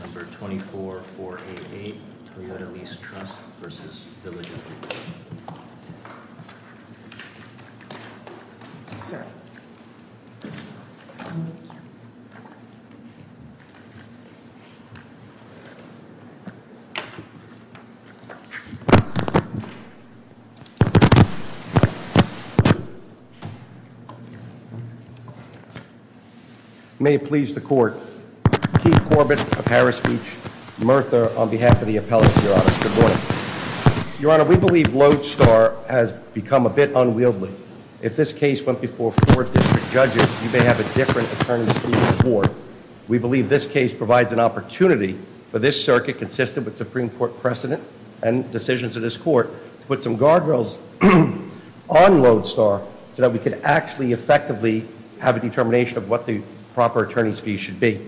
24488 Toyota Lease Trust v. Village of Freeport May it please the court, Keith Corbett of Harris Beach and Mertha on behalf of the appellate's, your honor, good morning. Your honor, we believe Lodestar has become a bit unwieldy. If this case went before four district judges, you may have a different attorney's fee report. We believe this case provides an opportunity for this circuit consistent with Supreme Court precedent and decisions of this court. Put some guardrails on Lodestar so that we could actually effectively have a determination of what the proper attorney's fee should be.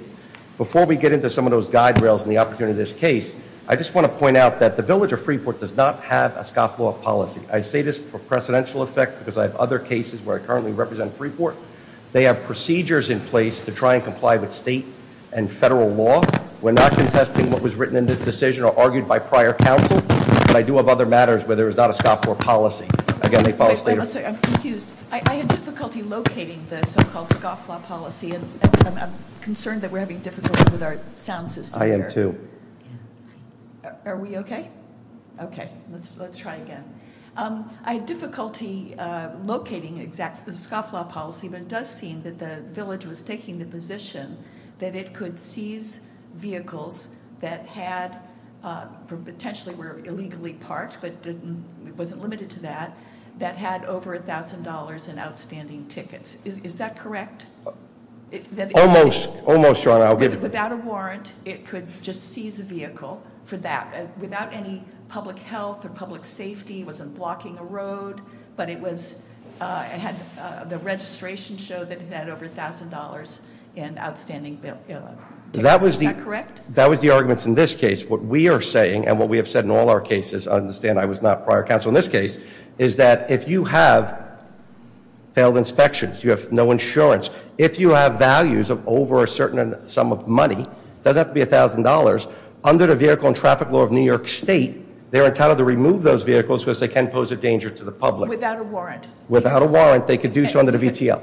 Before we get into some of those guide rails and the opportunity of this case, I just want to point out that the village of Freeport does not have a scoff law policy. I say this for precedential effect because I have other cases where I currently represent Freeport. They have procedures in place to try and comply with state and federal law. We're not contesting what was written in this decision or argued by prior counsel, but I do have other matters where there is not a scoff law policy. Again, they follow state- I'm sorry, I'm confused. I have difficulty locating the so-called scoff law policy, and I'm concerned that we're having difficulty with our sound system here. I am too. Are we okay? Okay, let's try again. I have difficulty locating the scoff law policy, but it does seem that the village was taking the position that it could seize vehicles that had, potentially were illegally parked, but it wasn't limited to that, that had over $1,000 in outstanding tickets. Is that correct? Almost, almost, your honor, I'll give you- Without a warrant, it could just seize a vehicle for that. Without any public health or public safety, it wasn't blocking a road, but it had the registration show that it had over $1,000 in outstanding tickets, is that correct? That was the arguments in this case. What we are saying, and what we have said in all our cases, I understand I was not prior counsel in this case, is that if you have failed inspections, you have no insurance, if you have values of over a certain sum of money, doesn't have to be $1,000, under the vehicle and traffic law of New York State, they're entitled to remove those vehicles because they can pose a danger to the public. Without a warrant. Without a warrant, they could do so under the VTL.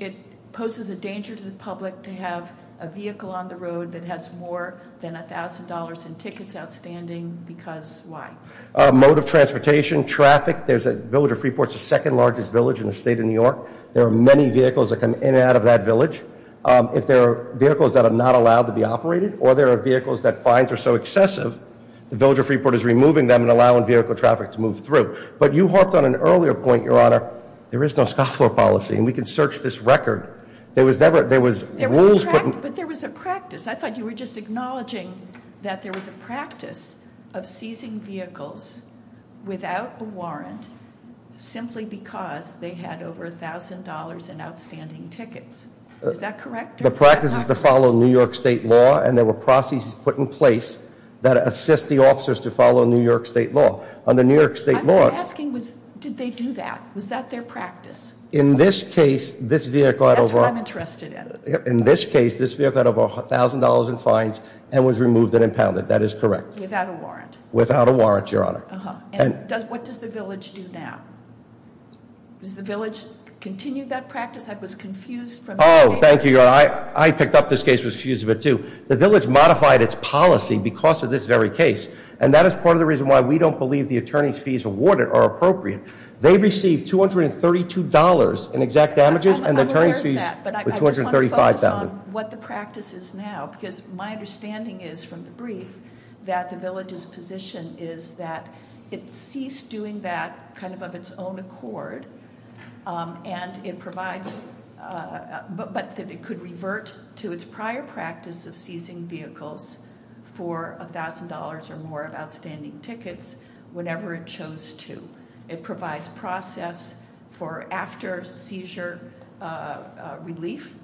It poses a danger to the public to have a vehicle on the road that has more than $1,000 in tickets outstanding, because why? Mode of transportation, traffic, there's a, Village of Freeport's the second largest village in the state of New York. There are many vehicles that come in and out of that village. If there are vehicles that are not allowed to be operated, or there are vehicles that fines are so excessive, the Village of Freeport is removing them and allowing vehicle traffic to move through. But you hopped on an earlier point, your honor, there is no scoff law policy, and we can search this record. There was never, there was rules put in. But there was a practice. I thought you were just acknowledging that there was a practice of seizing vehicles without a warrant simply because they had over $1,000 in outstanding tickets. Is that correct? The practice is to follow New York State law, and there were processes put in place that assist the officers to follow New York State law. On the New York State law- I'm asking, did they do that? Was that their practice? In this case, this vehicle had over- That's what I'm interested in. In this case, this vehicle had over $1,000 in fines and was removed and impounded. That is correct. Without a warrant. Without a warrant, your honor. And does, what does the village do now? Does the village continue that practice? I was confused from- Thank you, your honor. I picked up this case, was confused a bit too. The village modified its policy because of this very case. And that is part of the reason why we don't believe the attorney's fees awarded are appropriate. They received $232 in exact damages, and the attorney's fees were $235,000. I'm aware of that, but I just want to focus on what the practice is now. Because my understanding is from the brief that the village's position is that it ceased doing that kind of of its own accord. And it provides, but that it could revert to its prior practice of seizing vehicles for $1,000 or more of outstanding tickets whenever it chose to. It provides process for after seizure relief.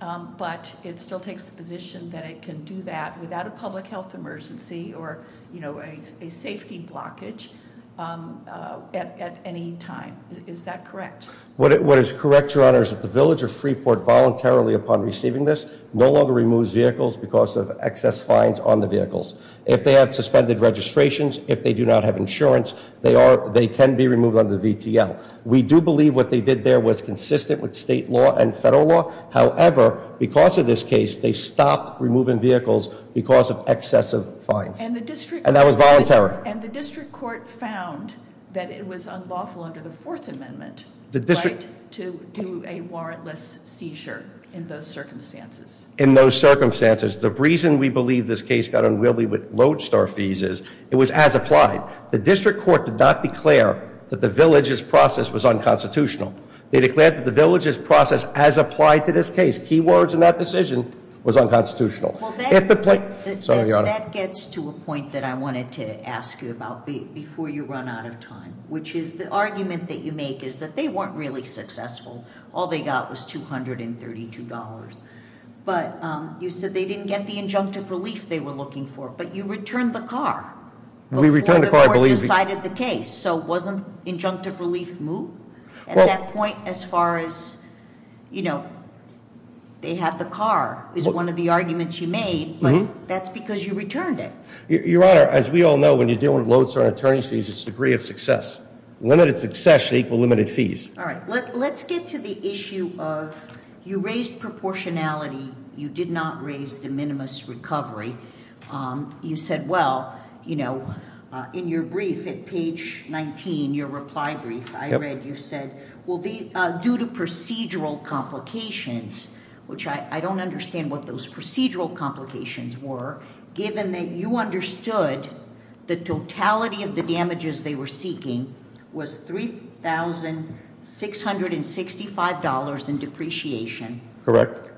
But it still takes the position that it can do that without a public health emergency or a safety blockage at any time. Is that correct? What is correct, your honor, is that the village of Freeport voluntarily upon receiving this no longer removes vehicles because of excess fines on the vehicles. If they have suspended registrations, if they do not have insurance, they can be removed under the VTL. We do believe what they did there was consistent with state law and federal law. However, because of this case, they stopped removing vehicles because of excessive fines. And that was voluntary. And the district court found that it was unlawful under the fourth amendment to do a warrantless seizure in those circumstances. In those circumstances, the reason we believe this case got unwieldy with lodestar fees is it was as applied. The district court did not declare that the village's process was unconstitutional. They declared that the village's process as applied to this case, key words in that decision, was unconstitutional. If the plaintiff, sorry, your honor. That gets to a point that I wanted to ask you about before you run out of time, which is the argument that you make is that they weren't really successful. All they got was $232. But you said they didn't get the injunctive relief they were looking for, but you returned the car. We returned the car, I believe. Before the court decided the case. So wasn't injunctive relief moot? At that point, as far as they had the car is one of the arguments you made, but that's because you returned it. Your honor, as we all know, when you're dealing with lodestar attorney fees, it's a degree of success. Limited success equal limited fees. All right, let's get to the issue of, you raised proportionality, you did not raise de minimis recovery. You said, well, in your brief at page 19, your reply brief, I read, you said, well, due to procedural complications, which I don't understand what those procedural complications were, given that you understood the totality of the damages they were seeking was $3,665 in depreciation.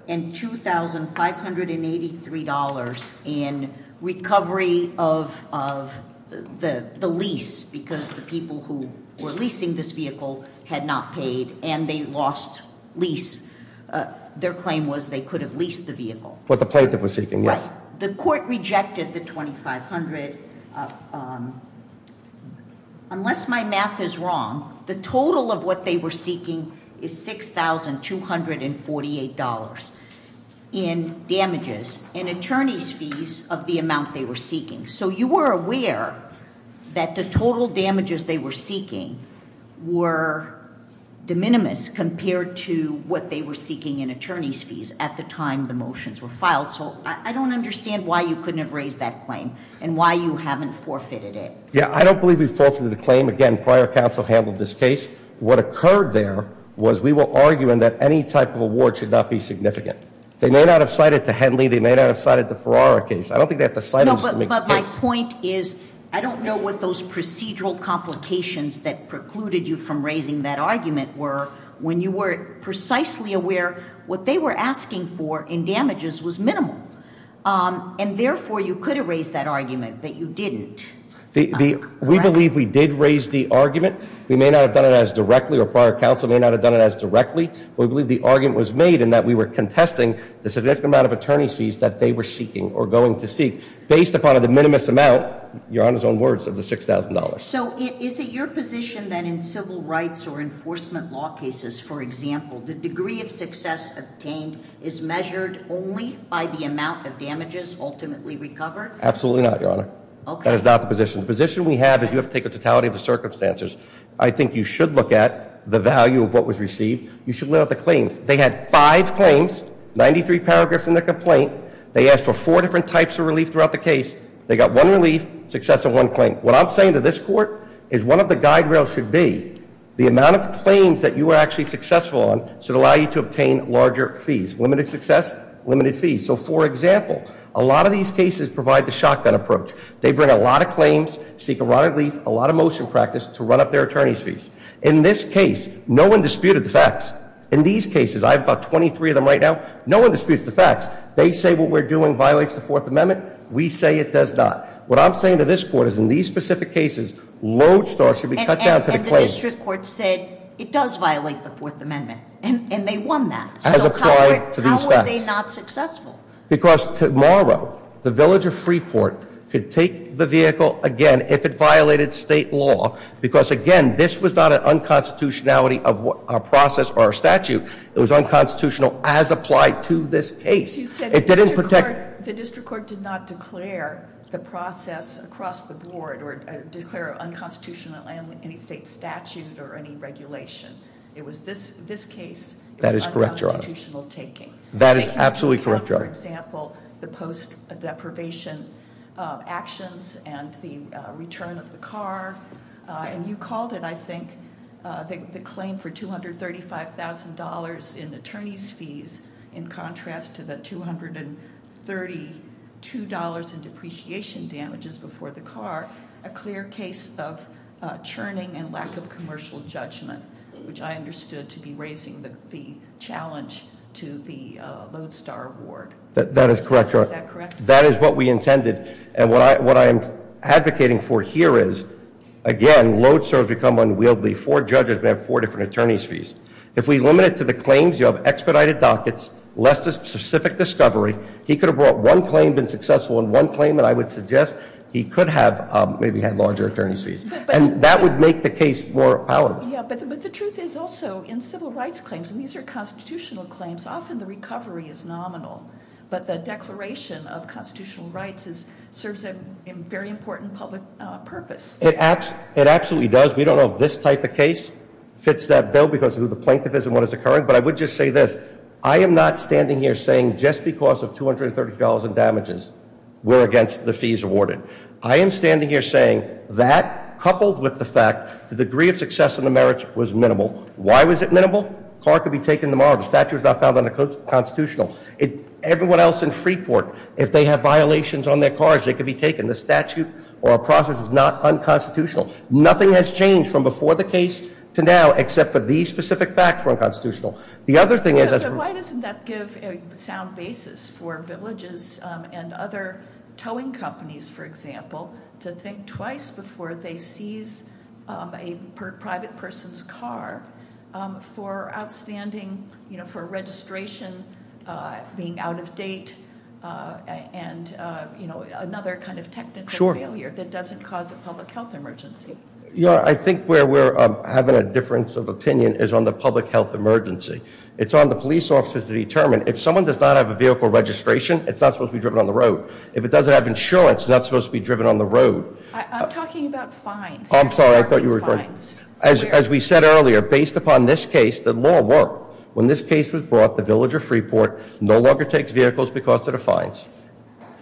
And $2,583 in recovery of the lease because the people who were leasing this vehicle had not paid and they lost lease. Their claim was they could have leased the vehicle. What the plaintiff was seeking, yes. The court rejected the 2,500, unless my math is wrong, the total of what they were seeking is $6,248 in damages in attorney's fees of the amount they were seeking. So you were aware that the total damages they were seeking were de minimis compared to what they were seeking in attorney's fees at the time the motions were filed. So I don't understand why you couldn't have raised that claim and why you haven't forfeited it. Yeah, I don't believe we forfeited the claim. Again, prior counsel handled this case. What occurred there was we were arguing that any type of award should not be significant. They may not have cited to Henley, they may not have cited the Ferrara case. I don't think they have to cite them just to make a case. But my point is, I don't know what those procedural complications that precluded you from raising that argument were. When you were precisely aware what they were asking for in damages was minimal. And therefore, you could have raised that argument, but you didn't, correct? We believe we did raise the argument. We may not have done it as directly, or prior counsel may not have done it as directly. We believe the argument was made in that we were contesting the significant amount of attorney's fees that they were seeking or going to seek. Based upon the minimus amount, your Honor's own words, of the $6,000. So is it your position that in civil rights or enforcement law cases, for example, the degree of success obtained is measured only by the amount of damages ultimately recovered? Absolutely not, your Honor. That is not the position. The position we have is you have to take a totality of the circumstances. I think you should look at the value of what was received. You should look at the claims. They had five claims, 93 paragraphs in their complaint. They asked for four different types of relief throughout the case. They got one relief, success of one claim. What I'm saying to this court is one of the guide rails should be the amount of claims that you are actually successful on should allow you to obtain larger fees. Limited success, limited fees. So for example, a lot of these cases provide the shotgun approach. They bring a lot of claims, seek a lot of relief, a lot of motion practice to run up their attorney's fees. In this case, no one disputed the facts. In these cases, I have about 23 of them right now, no one disputes the facts. They say what we're doing violates the Fourth Amendment. We say it does not. What I'm saying to this court is in these specific cases, lodestar should be cut down to the claims. And the district court said it does violate the Fourth Amendment, and they won that. So how are they not successful? Because tomorrow, the village of Freeport could take the vehicle again if it violated state law. Because again, this was not an unconstitutionality of a process or a statute. It was unconstitutional as applied to this case. It didn't protect- The district court did not declare the process across the board or declare unconstitutional in any state statute or any regulation. It was this case- That is correct, Your Honor. It was unconstitutional taking. That is absolutely correct, Your Honor. For example, the post deprivation actions and the return of the car, and you called it, I think, the claim for $235,000 in attorney's fees in contrast to the $232 in depreciation damages before the car, a clear case of churning and lack of commercial judgment, which I understood to be raising the challenge to the lodestar award. That is correct, Your Honor. Is that correct? That is what we intended. And what I'm advocating for here is, again, lodestar has become unwieldy. Four judges may have four different attorney's fees. If we limit it to the claims, you have expedited dockets, less specific discovery. He could have brought one claim, been successful in one claim, and I would suggest he could have maybe had larger attorney's fees. And that would make the case more powerful. Yeah, but the truth is also in civil rights claims, and these are constitutional claims, often the recovery is nominal. But the declaration of constitutional rights serves a very important public purpose. It absolutely does. We don't know if this type of case fits that bill because of who the plaintiff is and what is occurring, but I would just say this. I am not standing here saying just because of $230,000 in damages, we're against the fees awarded. I am standing here saying that, coupled with the fact, the degree of success in the merits was minimal. Why was it minimal? Car could be taken tomorrow. The statute was not found unconstitutional. Everyone else in Freeport, if they have violations on their cars, they could be taken. The statute or process is not unconstitutional. Nothing has changed from before the case to now, except for these specific facts were unconstitutional. The other thing is- Why doesn't that give a sound basis for villages and other towing companies, for example, to think twice before they seize a private person's car for outstanding, for registration being out of date, and another kind of technical failure that doesn't cause a public health emergency. I think where we're having a difference of opinion is on the public health emergency. It's on the police officers to determine, if someone does not have a vehicle registration, it's not supposed to be driven on the road. If it doesn't have insurance, it's not supposed to be driven on the road. I'm talking about fines. I'm sorry, I thought you were referring- As we said earlier, based upon this case, the law worked. When this case was brought, the villager of Freeport no longer takes vehicles because of the fines.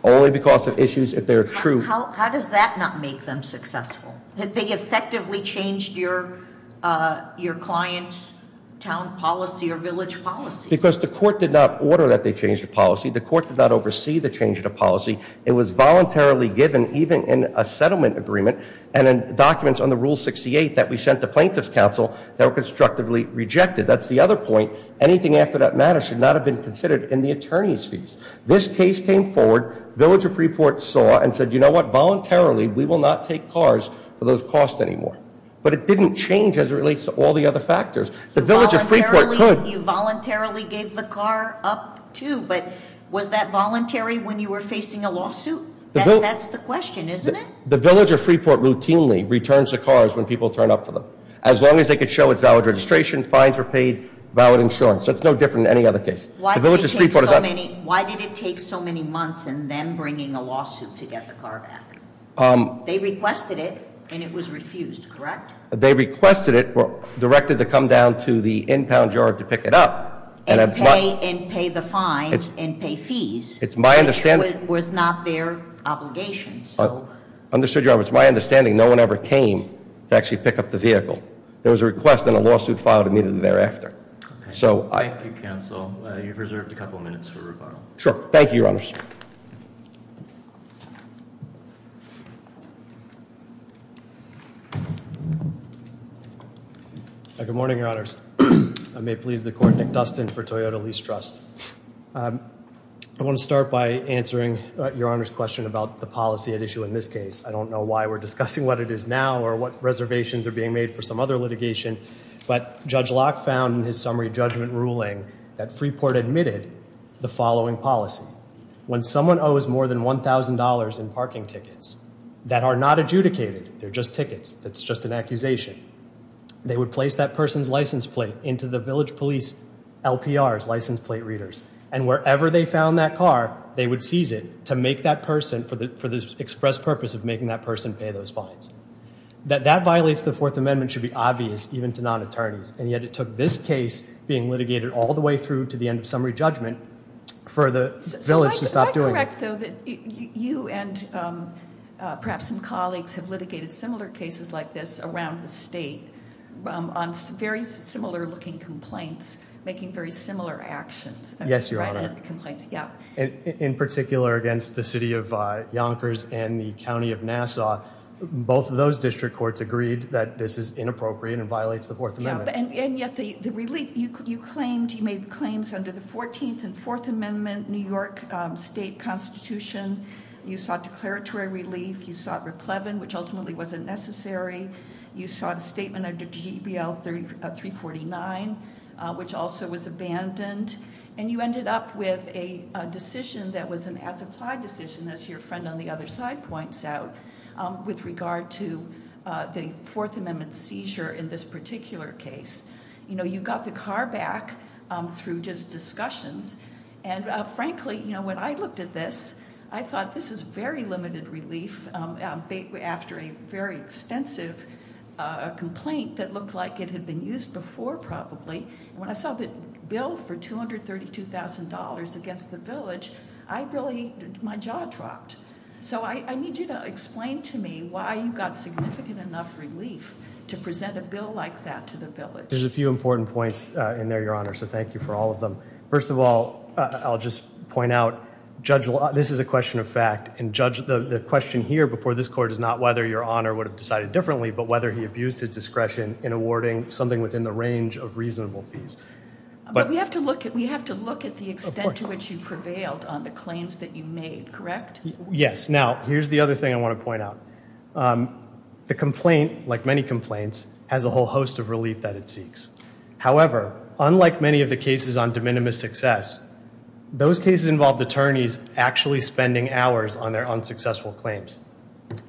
Only because of issues if they're true. How does that not make them successful? They effectively changed your client's town policy or village policy. Because the court did not order that they change the policy. The court did not oversee the change of the policy. It was voluntarily given, even in a settlement agreement, and in documents on the rule 68 that we sent to plaintiff's counsel, that were constructively rejected. That's the other point. Anything after that matter should not have been considered in the attorney's fees. This case came forward, villager of Freeport saw and said, you know what, voluntarily, we will not take cars for those costs anymore. But it didn't change as it relates to all the other factors. The villager of Freeport could- Voluntarily gave the car up, too, but was that voluntary when you were facing a lawsuit? That's the question, isn't it? The villager of Freeport routinely returns the cars when people turn up for them. As long as they could show it's valid registration, fines were paid, valid insurance. So it's no different than any other case. The villager of Freeport- Why did it take so many months and then bringing a lawsuit to get the car back? They requested it and it was refused, correct? They requested it, directed to come down to the in-pound yard to pick it up. And pay the fines and pay fees. It's my understanding- Was not their obligation, so. Understood your honor, it's my understanding no one ever came to actually pick up the vehicle. There was a request and a lawsuit filed immediately thereafter. So I- Thank you, counsel. You've reserved a couple minutes for rebuttal. Sure, thank you, your honors. Good morning, your honors. I may please the court, Nick Dustin for Toyota Lease Trust. I want to start by answering your honor's question about the policy at issue in this case. I don't know why we're discussing what it is now or what reservations are being made for some other litigation. But Judge Locke found in his summary judgment ruling that Freeport admitted the following policy. When someone owes more than $1,000 in parking tickets that are not adjudicated, they're just tickets. That's just an accusation. They would place that person's license plate into the village police LPR's, license plate readers. And wherever they found that car, they would seize it to make that person, for the express purpose of making that person pay those fines. That that violates the Fourth Amendment should be obvious even to non-attorneys. And yet it took this case being litigated all the way through to the end of summary judgment for the village to stop doing it. So that you and perhaps some colleagues have litigated similar cases like this around the state. On very similar looking complaints, making very similar actions. Yes, your honor. Complaints, yeah. In particular against the city of Yonkers and the county of Nassau. Both of those district courts agreed that this is inappropriate and violates the Fourth Amendment. And yet the relief, you made claims under the 14th and Fourth Amendment New York State Constitution. You sought declaratory relief, you sought replevin, which ultimately wasn't necessary. You sought a statement under GBL 349, which also was abandoned. And you ended up with a decision that was an as applied decision, as your friend on the other side points out. With regard to the Fourth Amendment seizure in this particular case. You got the car back through just discussions. And frankly, when I looked at this, I thought this is very limited relief. After a very extensive complaint that looked like it had been used before probably. When I saw the bill for $232,000 against the village, I really, my jaw dropped. So I need you to explain to me why you got significant enough relief to present a bill like that to the village. There's a few important points in there, your honor, so thank you for all of them. First of all, I'll just point out, this is a question of fact. And judge, the question here before this court is not whether your honor would have decided differently. But whether he abused his discretion in awarding something within the range of reasonable fees. But we have to look at the extent to which you prevailed on the claims that you made, correct? Yes, now, here's the other thing I want to point out. The complaint, like many complaints, has a whole host of relief that it seeks. However, unlike many of the cases on de minimis success, those cases involved attorneys actually spending hours on their unsuccessful claims.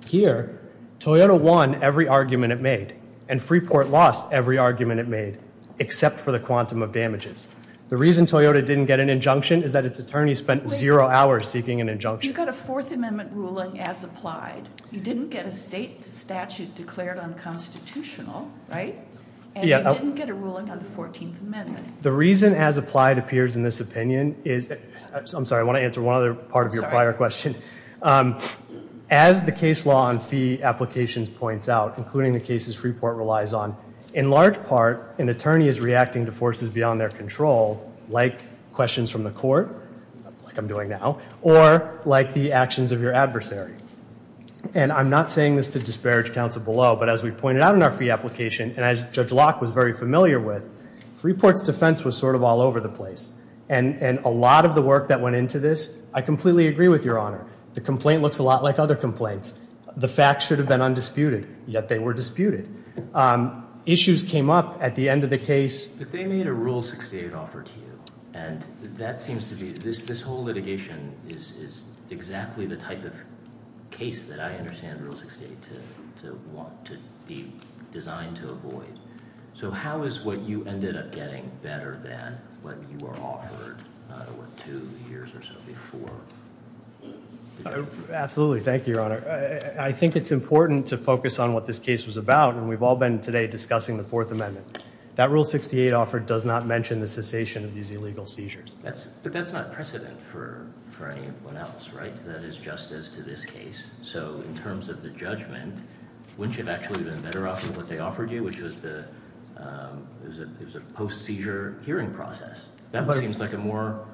Here, Toyota won every argument it made. And Freeport lost every argument it made, except for the quantum of damages. The reason Toyota didn't get an injunction is that its attorney spent zero hours seeking an injunction. You got a Fourth Amendment ruling as applied. You didn't get a state statute declared unconstitutional, right? And you didn't get a ruling on the 14th Amendment. The reason as applied appears in this opinion is, I'm sorry, I want to answer one other part of your prior question. As the case law on fee applications points out, including the cases Freeport relies on, in large part, an attorney is reacting to forces beyond their control, like questions from the court, like I'm doing now, or like the actions of your adversary. And I'm not saying this to disparage counsel below, but as we pointed out in our fee application, and as Judge Locke was very familiar with, Freeport's defense was sort of all over the place. And a lot of the work that went into this, I completely agree with your honor. The complaint looks a lot like other complaints. The facts should have been undisputed, yet they were disputed. Issues came up at the end of the case. But they made a Rule 68 offer to you. And that seems to be, this whole litigation is exactly the type of case that I understand Rule 68 to want to be designed to avoid. So how is what you ended up getting better than what you were offered two years or so before? Absolutely, thank you, Your Honor. I think it's important to focus on what this case was about, and we've all been today discussing the Fourth Amendment. That Rule 68 offer does not mention the cessation of these illegal seizures. But that's not precedent for anyone else, right? That is just as to this case. So in terms of the judgment, wouldn't you have actually been better off with what they offered you, which was a post-seizure hearing process? That seems like a more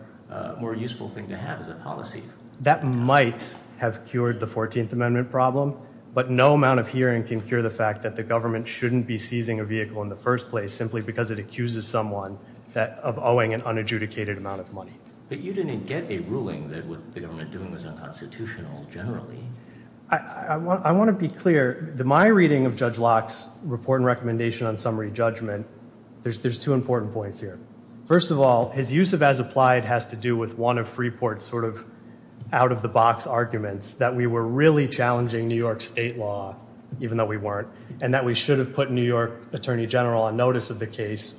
useful thing to have as a policy. That might have cured the 14th Amendment problem. But no amount of hearing can cure the fact that the government shouldn't be seizing a vehicle in the first place, simply because it accuses someone of owing an unadjudicated amount of money. But you didn't get a ruling that what the government was doing was unconstitutional, generally. I want to be clear, my reading of Judge Locke's report and recommendation on summary judgment, there's two important points here. First of all, his use of as applied has to do with one of Freeport's sort of the box arguments that we were really challenging New York State law, even though we weren't. And that we should have put New York Attorney General on notice of the case,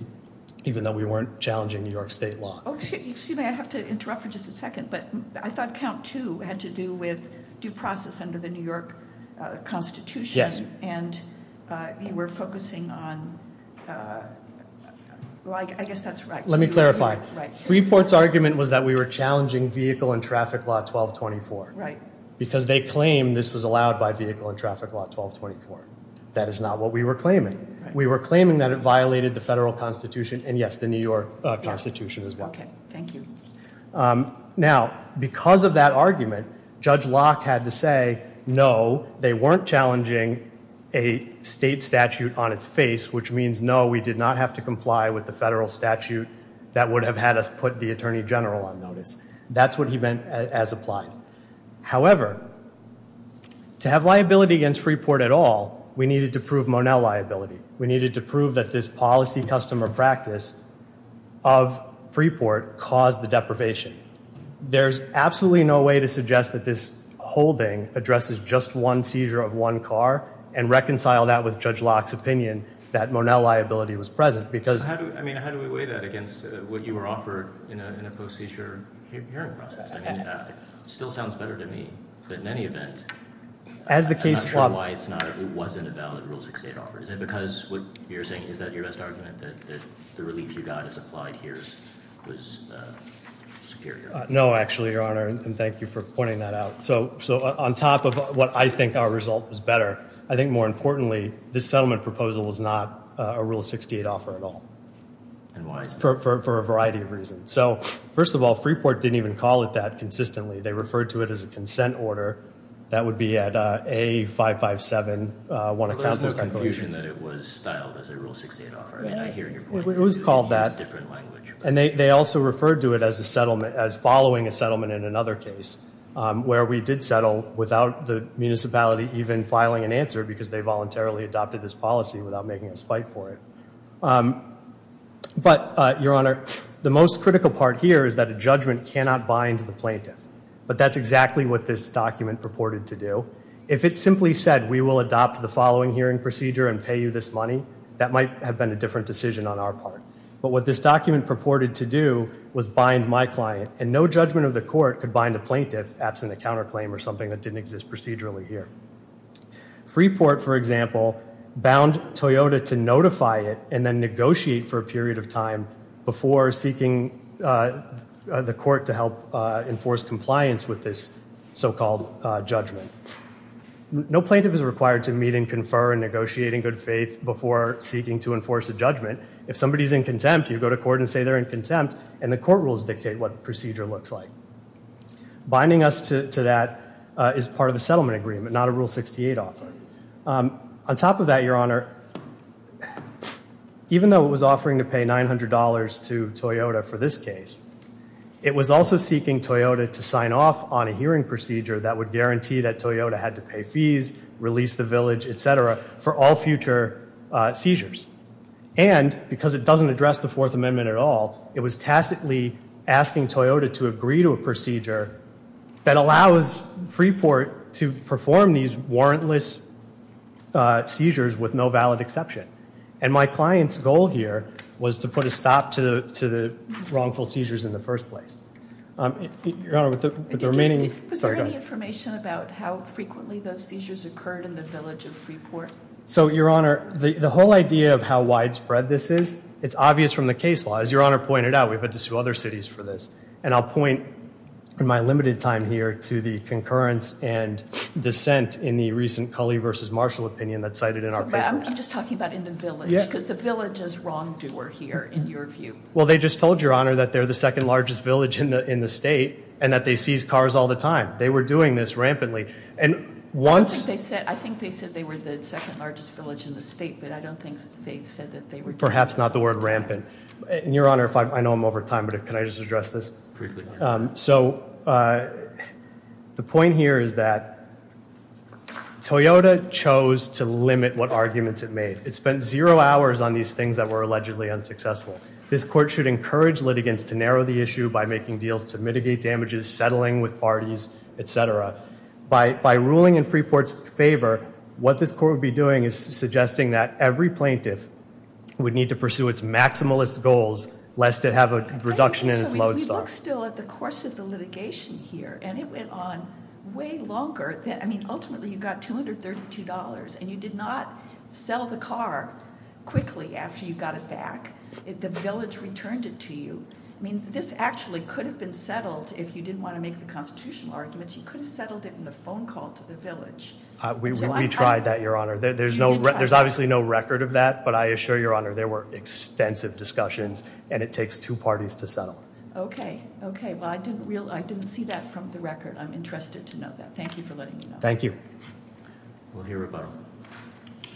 even though we weren't challenging New York State law. Excuse me, I have to interrupt for just a second, but I thought count two had to do with due process under the New York Constitution. And you were focusing on, well, I guess that's right. Let me clarify. Freeport's argument was that we were challenging vehicle and traffic law 1224. Because they claim this was allowed by vehicle and traffic law 1224. That is not what we were claiming. We were claiming that it violated the federal constitution, and yes, the New York constitution as well. Thank you. Now, because of that argument, Judge Locke had to say, no, they weren't challenging a state statute on its face, which means no, we did not have to comply with the federal statute that would have had us put the Attorney General on notice. That's what he meant as applied. However, to have liability against Freeport at all, we needed to prove Monell liability. We needed to prove that this policy customer practice of Freeport caused the deprivation. There's absolutely no way to suggest that this holding addresses just one seizure of one car and reconcile that with Judge Locke's opinion that Monell liability was present. Because- I mean, how do we weigh that against what you were offered in a post-seizure hearing process? I mean, it still sounds better to me, but in any event, I'm not sure why it wasn't a valid Rule 68 offer. Is it because what you're saying, is that your best argument, that the relief you got as applied here was superior? No, actually, Your Honor, and thank you for pointing that out. So, on top of what I think our result was better, I think more importantly, this settlement proposal was not a Rule 68 offer at all for a variety of reasons. So, first of all, Freeport didn't even call it that consistently. They referred to it as a consent order. That would be at A557, one of counsel's conclusions. There's no confusion that it was styled as a Rule 68 offer. I hear your point. It was called that. It's a different language. And they also referred to it as following a settlement in another case, where we did settle without the municipality even filing an answer, because they voluntarily adopted this policy without making a spike for it. But, Your Honor, the most critical part here is that a judgment cannot bind the plaintiff. But that's exactly what this document purported to do. If it simply said, we will adopt the following hearing procedure and pay you this money, that might have been a different decision on our part. But what this document purported to do was bind my client. And no judgment of the court could bind a plaintiff absent a counterclaim or something that didn't exist procedurally here. Freeport, for example, bound Toyota to notify it and then negotiate for a period of time before seeking the court to help enforce compliance with this so-called judgment. No plaintiff is required to meet and confer and negotiate in good faith before seeking to enforce a judgment. If somebody's in contempt, you go to court and say they're in contempt, and the court rules dictate what the procedure looks like. Binding us to that is part of the settlement agreement, not a Rule 68 offer. On top of that, Your Honor, even though it was offering to pay $900 to Toyota for this case, it was also seeking Toyota to sign off on a hearing procedure that would guarantee that Toyota had to pay fees, release the village, et cetera, for all future seizures. And because it doesn't address the Fourth Amendment at all, it was tacitly asking Toyota to agree to a procedure that allows Freeport to perform these warrantless seizures with no valid exception. And my client's goal here was to put a stop to the wrongful seizures in the first place. Your Honor, with the remaining, sorry, go ahead. Was there any information about how frequently those seizures occurred in the village of Freeport? So, Your Honor, the whole idea of how widespread this is, it's obvious from the case law. As Your Honor pointed out, we've had to sue other cities for this. And I'll point, in my limited time here, to the concurrence and dissent in the recent Culley v. Marshall opinion that's cited in our papers. I'm just talking about in the village, because the village is wrongdoer here, in your view. Well, they just told Your Honor that they're the second largest village in the state and that they seize cars all the time. They were doing this rampantly. And once- I think they said they were the second largest village in the state, but I don't think they said that they were- Perhaps not the word rampant. And Your Honor, I know I'm over time, but can I just address this? Briefly. So, the point here is that Toyota chose to limit what arguments it made. It spent zero hours on these things that were allegedly unsuccessful. This court should encourage litigants to narrow the issue by making deals to mitigate damages, settling with parties, et cetera. By ruling in Freeport's favor, what this court would be doing is suggesting that every plaintiff would need to pursue its maximalist goals, lest it have a reduction in its lodestar. We look still at the course of the litigation here, and it went on way longer than- I mean, ultimately, you got $232 and you did not sell the car quickly after you got it back. The village returned it to you. I mean, this actually could have been settled if you didn't want to make the constitutional arguments. You could have settled it in the phone call to the village. We tried that, Your Honor. There's obviously no record of that, but I assure Your Honor, there were extensive discussions, and it takes two parties to settle. Okay, okay. Well, I didn't see that from the record. I'm interested to know that. Thank you for letting me know. Thank you. We'll hear about it.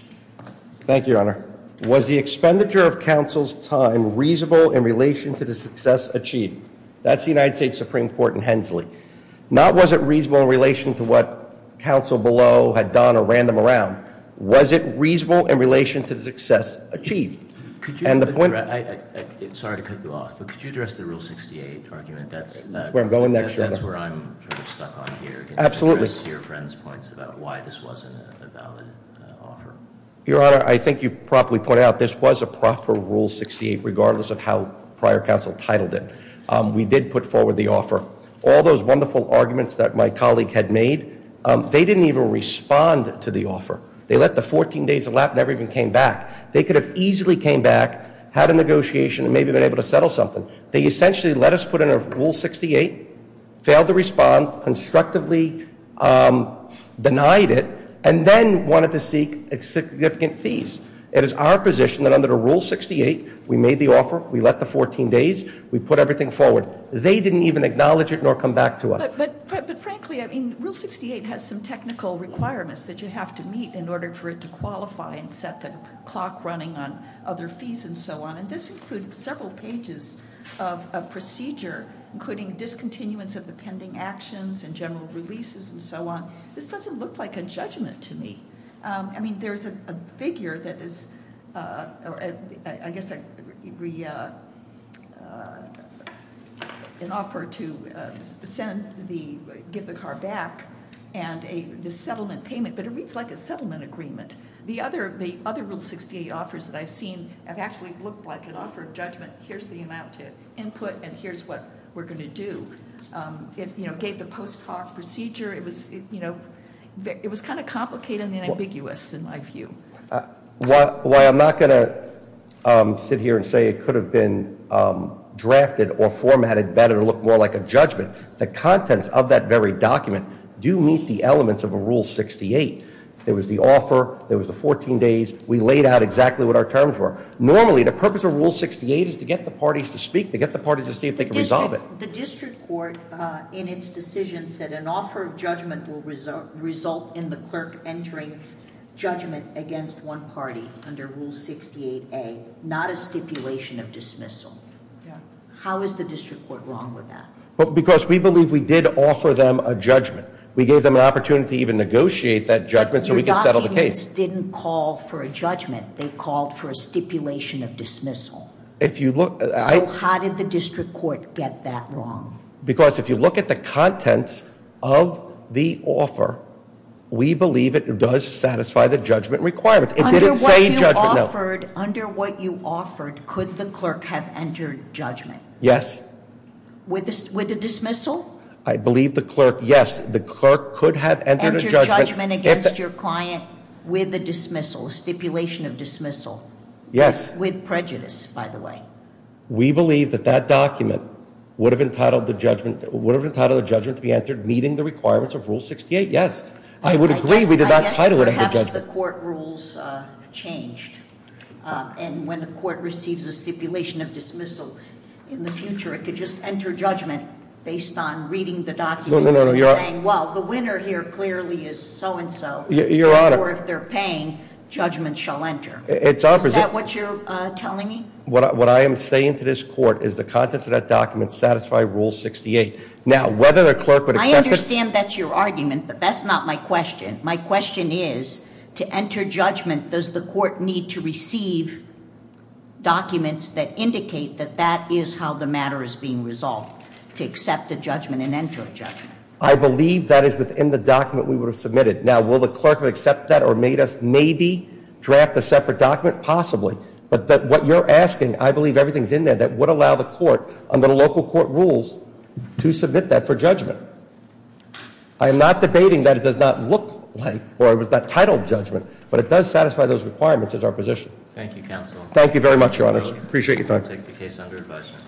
Thank you, Your Honor. Was the expenditure of counsel's time reasonable in relation to the success achieved? That's the United States Supreme Court in Hensley. Not was it reasonable in relation to what counsel below had done or ran them around. Was it reasonable in relation to the success achieved? Sorry to cut you off, but could you address the Rule 68 argument? That's where I'm going next, Your Honor. That's where I'm sort of stuck on here. Absolutely. Can you address your friend's points about why this wasn't a valid offer? Your Honor, I think you properly pointed out this was a proper Rule 68, regardless of how prior counsel titled it. We did put forward the offer. All those wonderful arguments that my colleague had made, they didn't even respond to the offer. They let the 14 days elapse, never even came back. They could have easily came back, had a negotiation, and maybe been able to settle something. They essentially let us put in a Rule 68, failed to respond, constructively denied it, and then wanted to seek significant fees. It is our position that under the Rule 68, we made the offer, we let the 14 days, we put everything forward. They didn't even acknowledge it nor come back to us. But frankly, I mean, Rule 68 has some technical requirements that you have to meet in order for it to qualify and set the clock running on other fees and so on. And this included several pages of a procedure, including discontinuance of the pending actions and general releases and so on. This doesn't look like a judgment to me. I mean, there's a figure that is, I guess, an offer to give the car back and the settlement payment. But it reads like a settlement agreement. The other Rule 68 offers that I've seen have actually looked like an offer of judgment. Here's the amount to input and here's what we're going to do. It gave the post-park procedure. It was kind of complicated and ambiguous, in my view. Why I'm not going to sit here and say it could have been drafted or formatted better to look more like a judgment. The contents of that very document do meet the elements of a Rule 68. There was the offer, there was the 14 days, we laid out exactly what our terms were. Normally, the purpose of Rule 68 is to get the parties to speak, to get the parties to see if they can resolve it. The district court, in its decision, said an offer of judgment will result in the clerk entering judgment against one party under Rule 68A, not a stipulation of dismissal. How is the district court wrong with that? Because we believe we did offer them a judgment. We gave them an opportunity to even negotiate that judgment so we could settle the case. But your documents didn't call for a judgment. They called for a stipulation of dismissal. If you look- So how did the district court get that wrong? Because if you look at the contents of the offer, we believe it does satisfy the judgment requirements. It didn't say judgment, no. Under what you offered, could the clerk have entered judgment? Yes. With a dismissal? I believe the clerk, yes, the clerk could have entered a judgment. Entered judgment against your client with a dismissal, a stipulation of dismissal. Yes. With prejudice, by the way. We believe that that document would have entitled the judgment to be entered meeting the requirements of Rule 68, yes. I would agree we did not title it as a judgment. I guess perhaps the court rules changed, and when the court receives a stipulation of dismissal in the future, it could just enter judgment based on reading the documents and saying, well, the winner here clearly is so and so. Your Honor. Or if they're paying, judgment shall enter. Is that what you're telling me? What I am saying to this court is the contents of that document satisfy Rule 68. Now, whether the clerk would accept it- I understand that's your argument, but that's not my question. My question is, to enter judgment, does the court need to receive documents that indicate that that is how the matter is being resolved, to accept a judgment and enter a judgment? I believe that is within the document we would have submitted. Now, will the clerk accept that or made us maybe draft a separate document? Possibly. But what you're asking, I believe everything's in there that would allow the court, under the local court rules, to submit that for judgment. I am not debating that it does not look like, or it was not titled judgment, but it does satisfy those requirements as our position. Thank you, Counsel. Thank you very much, Your Honors. Appreciate your time. I'll take the case under advisement.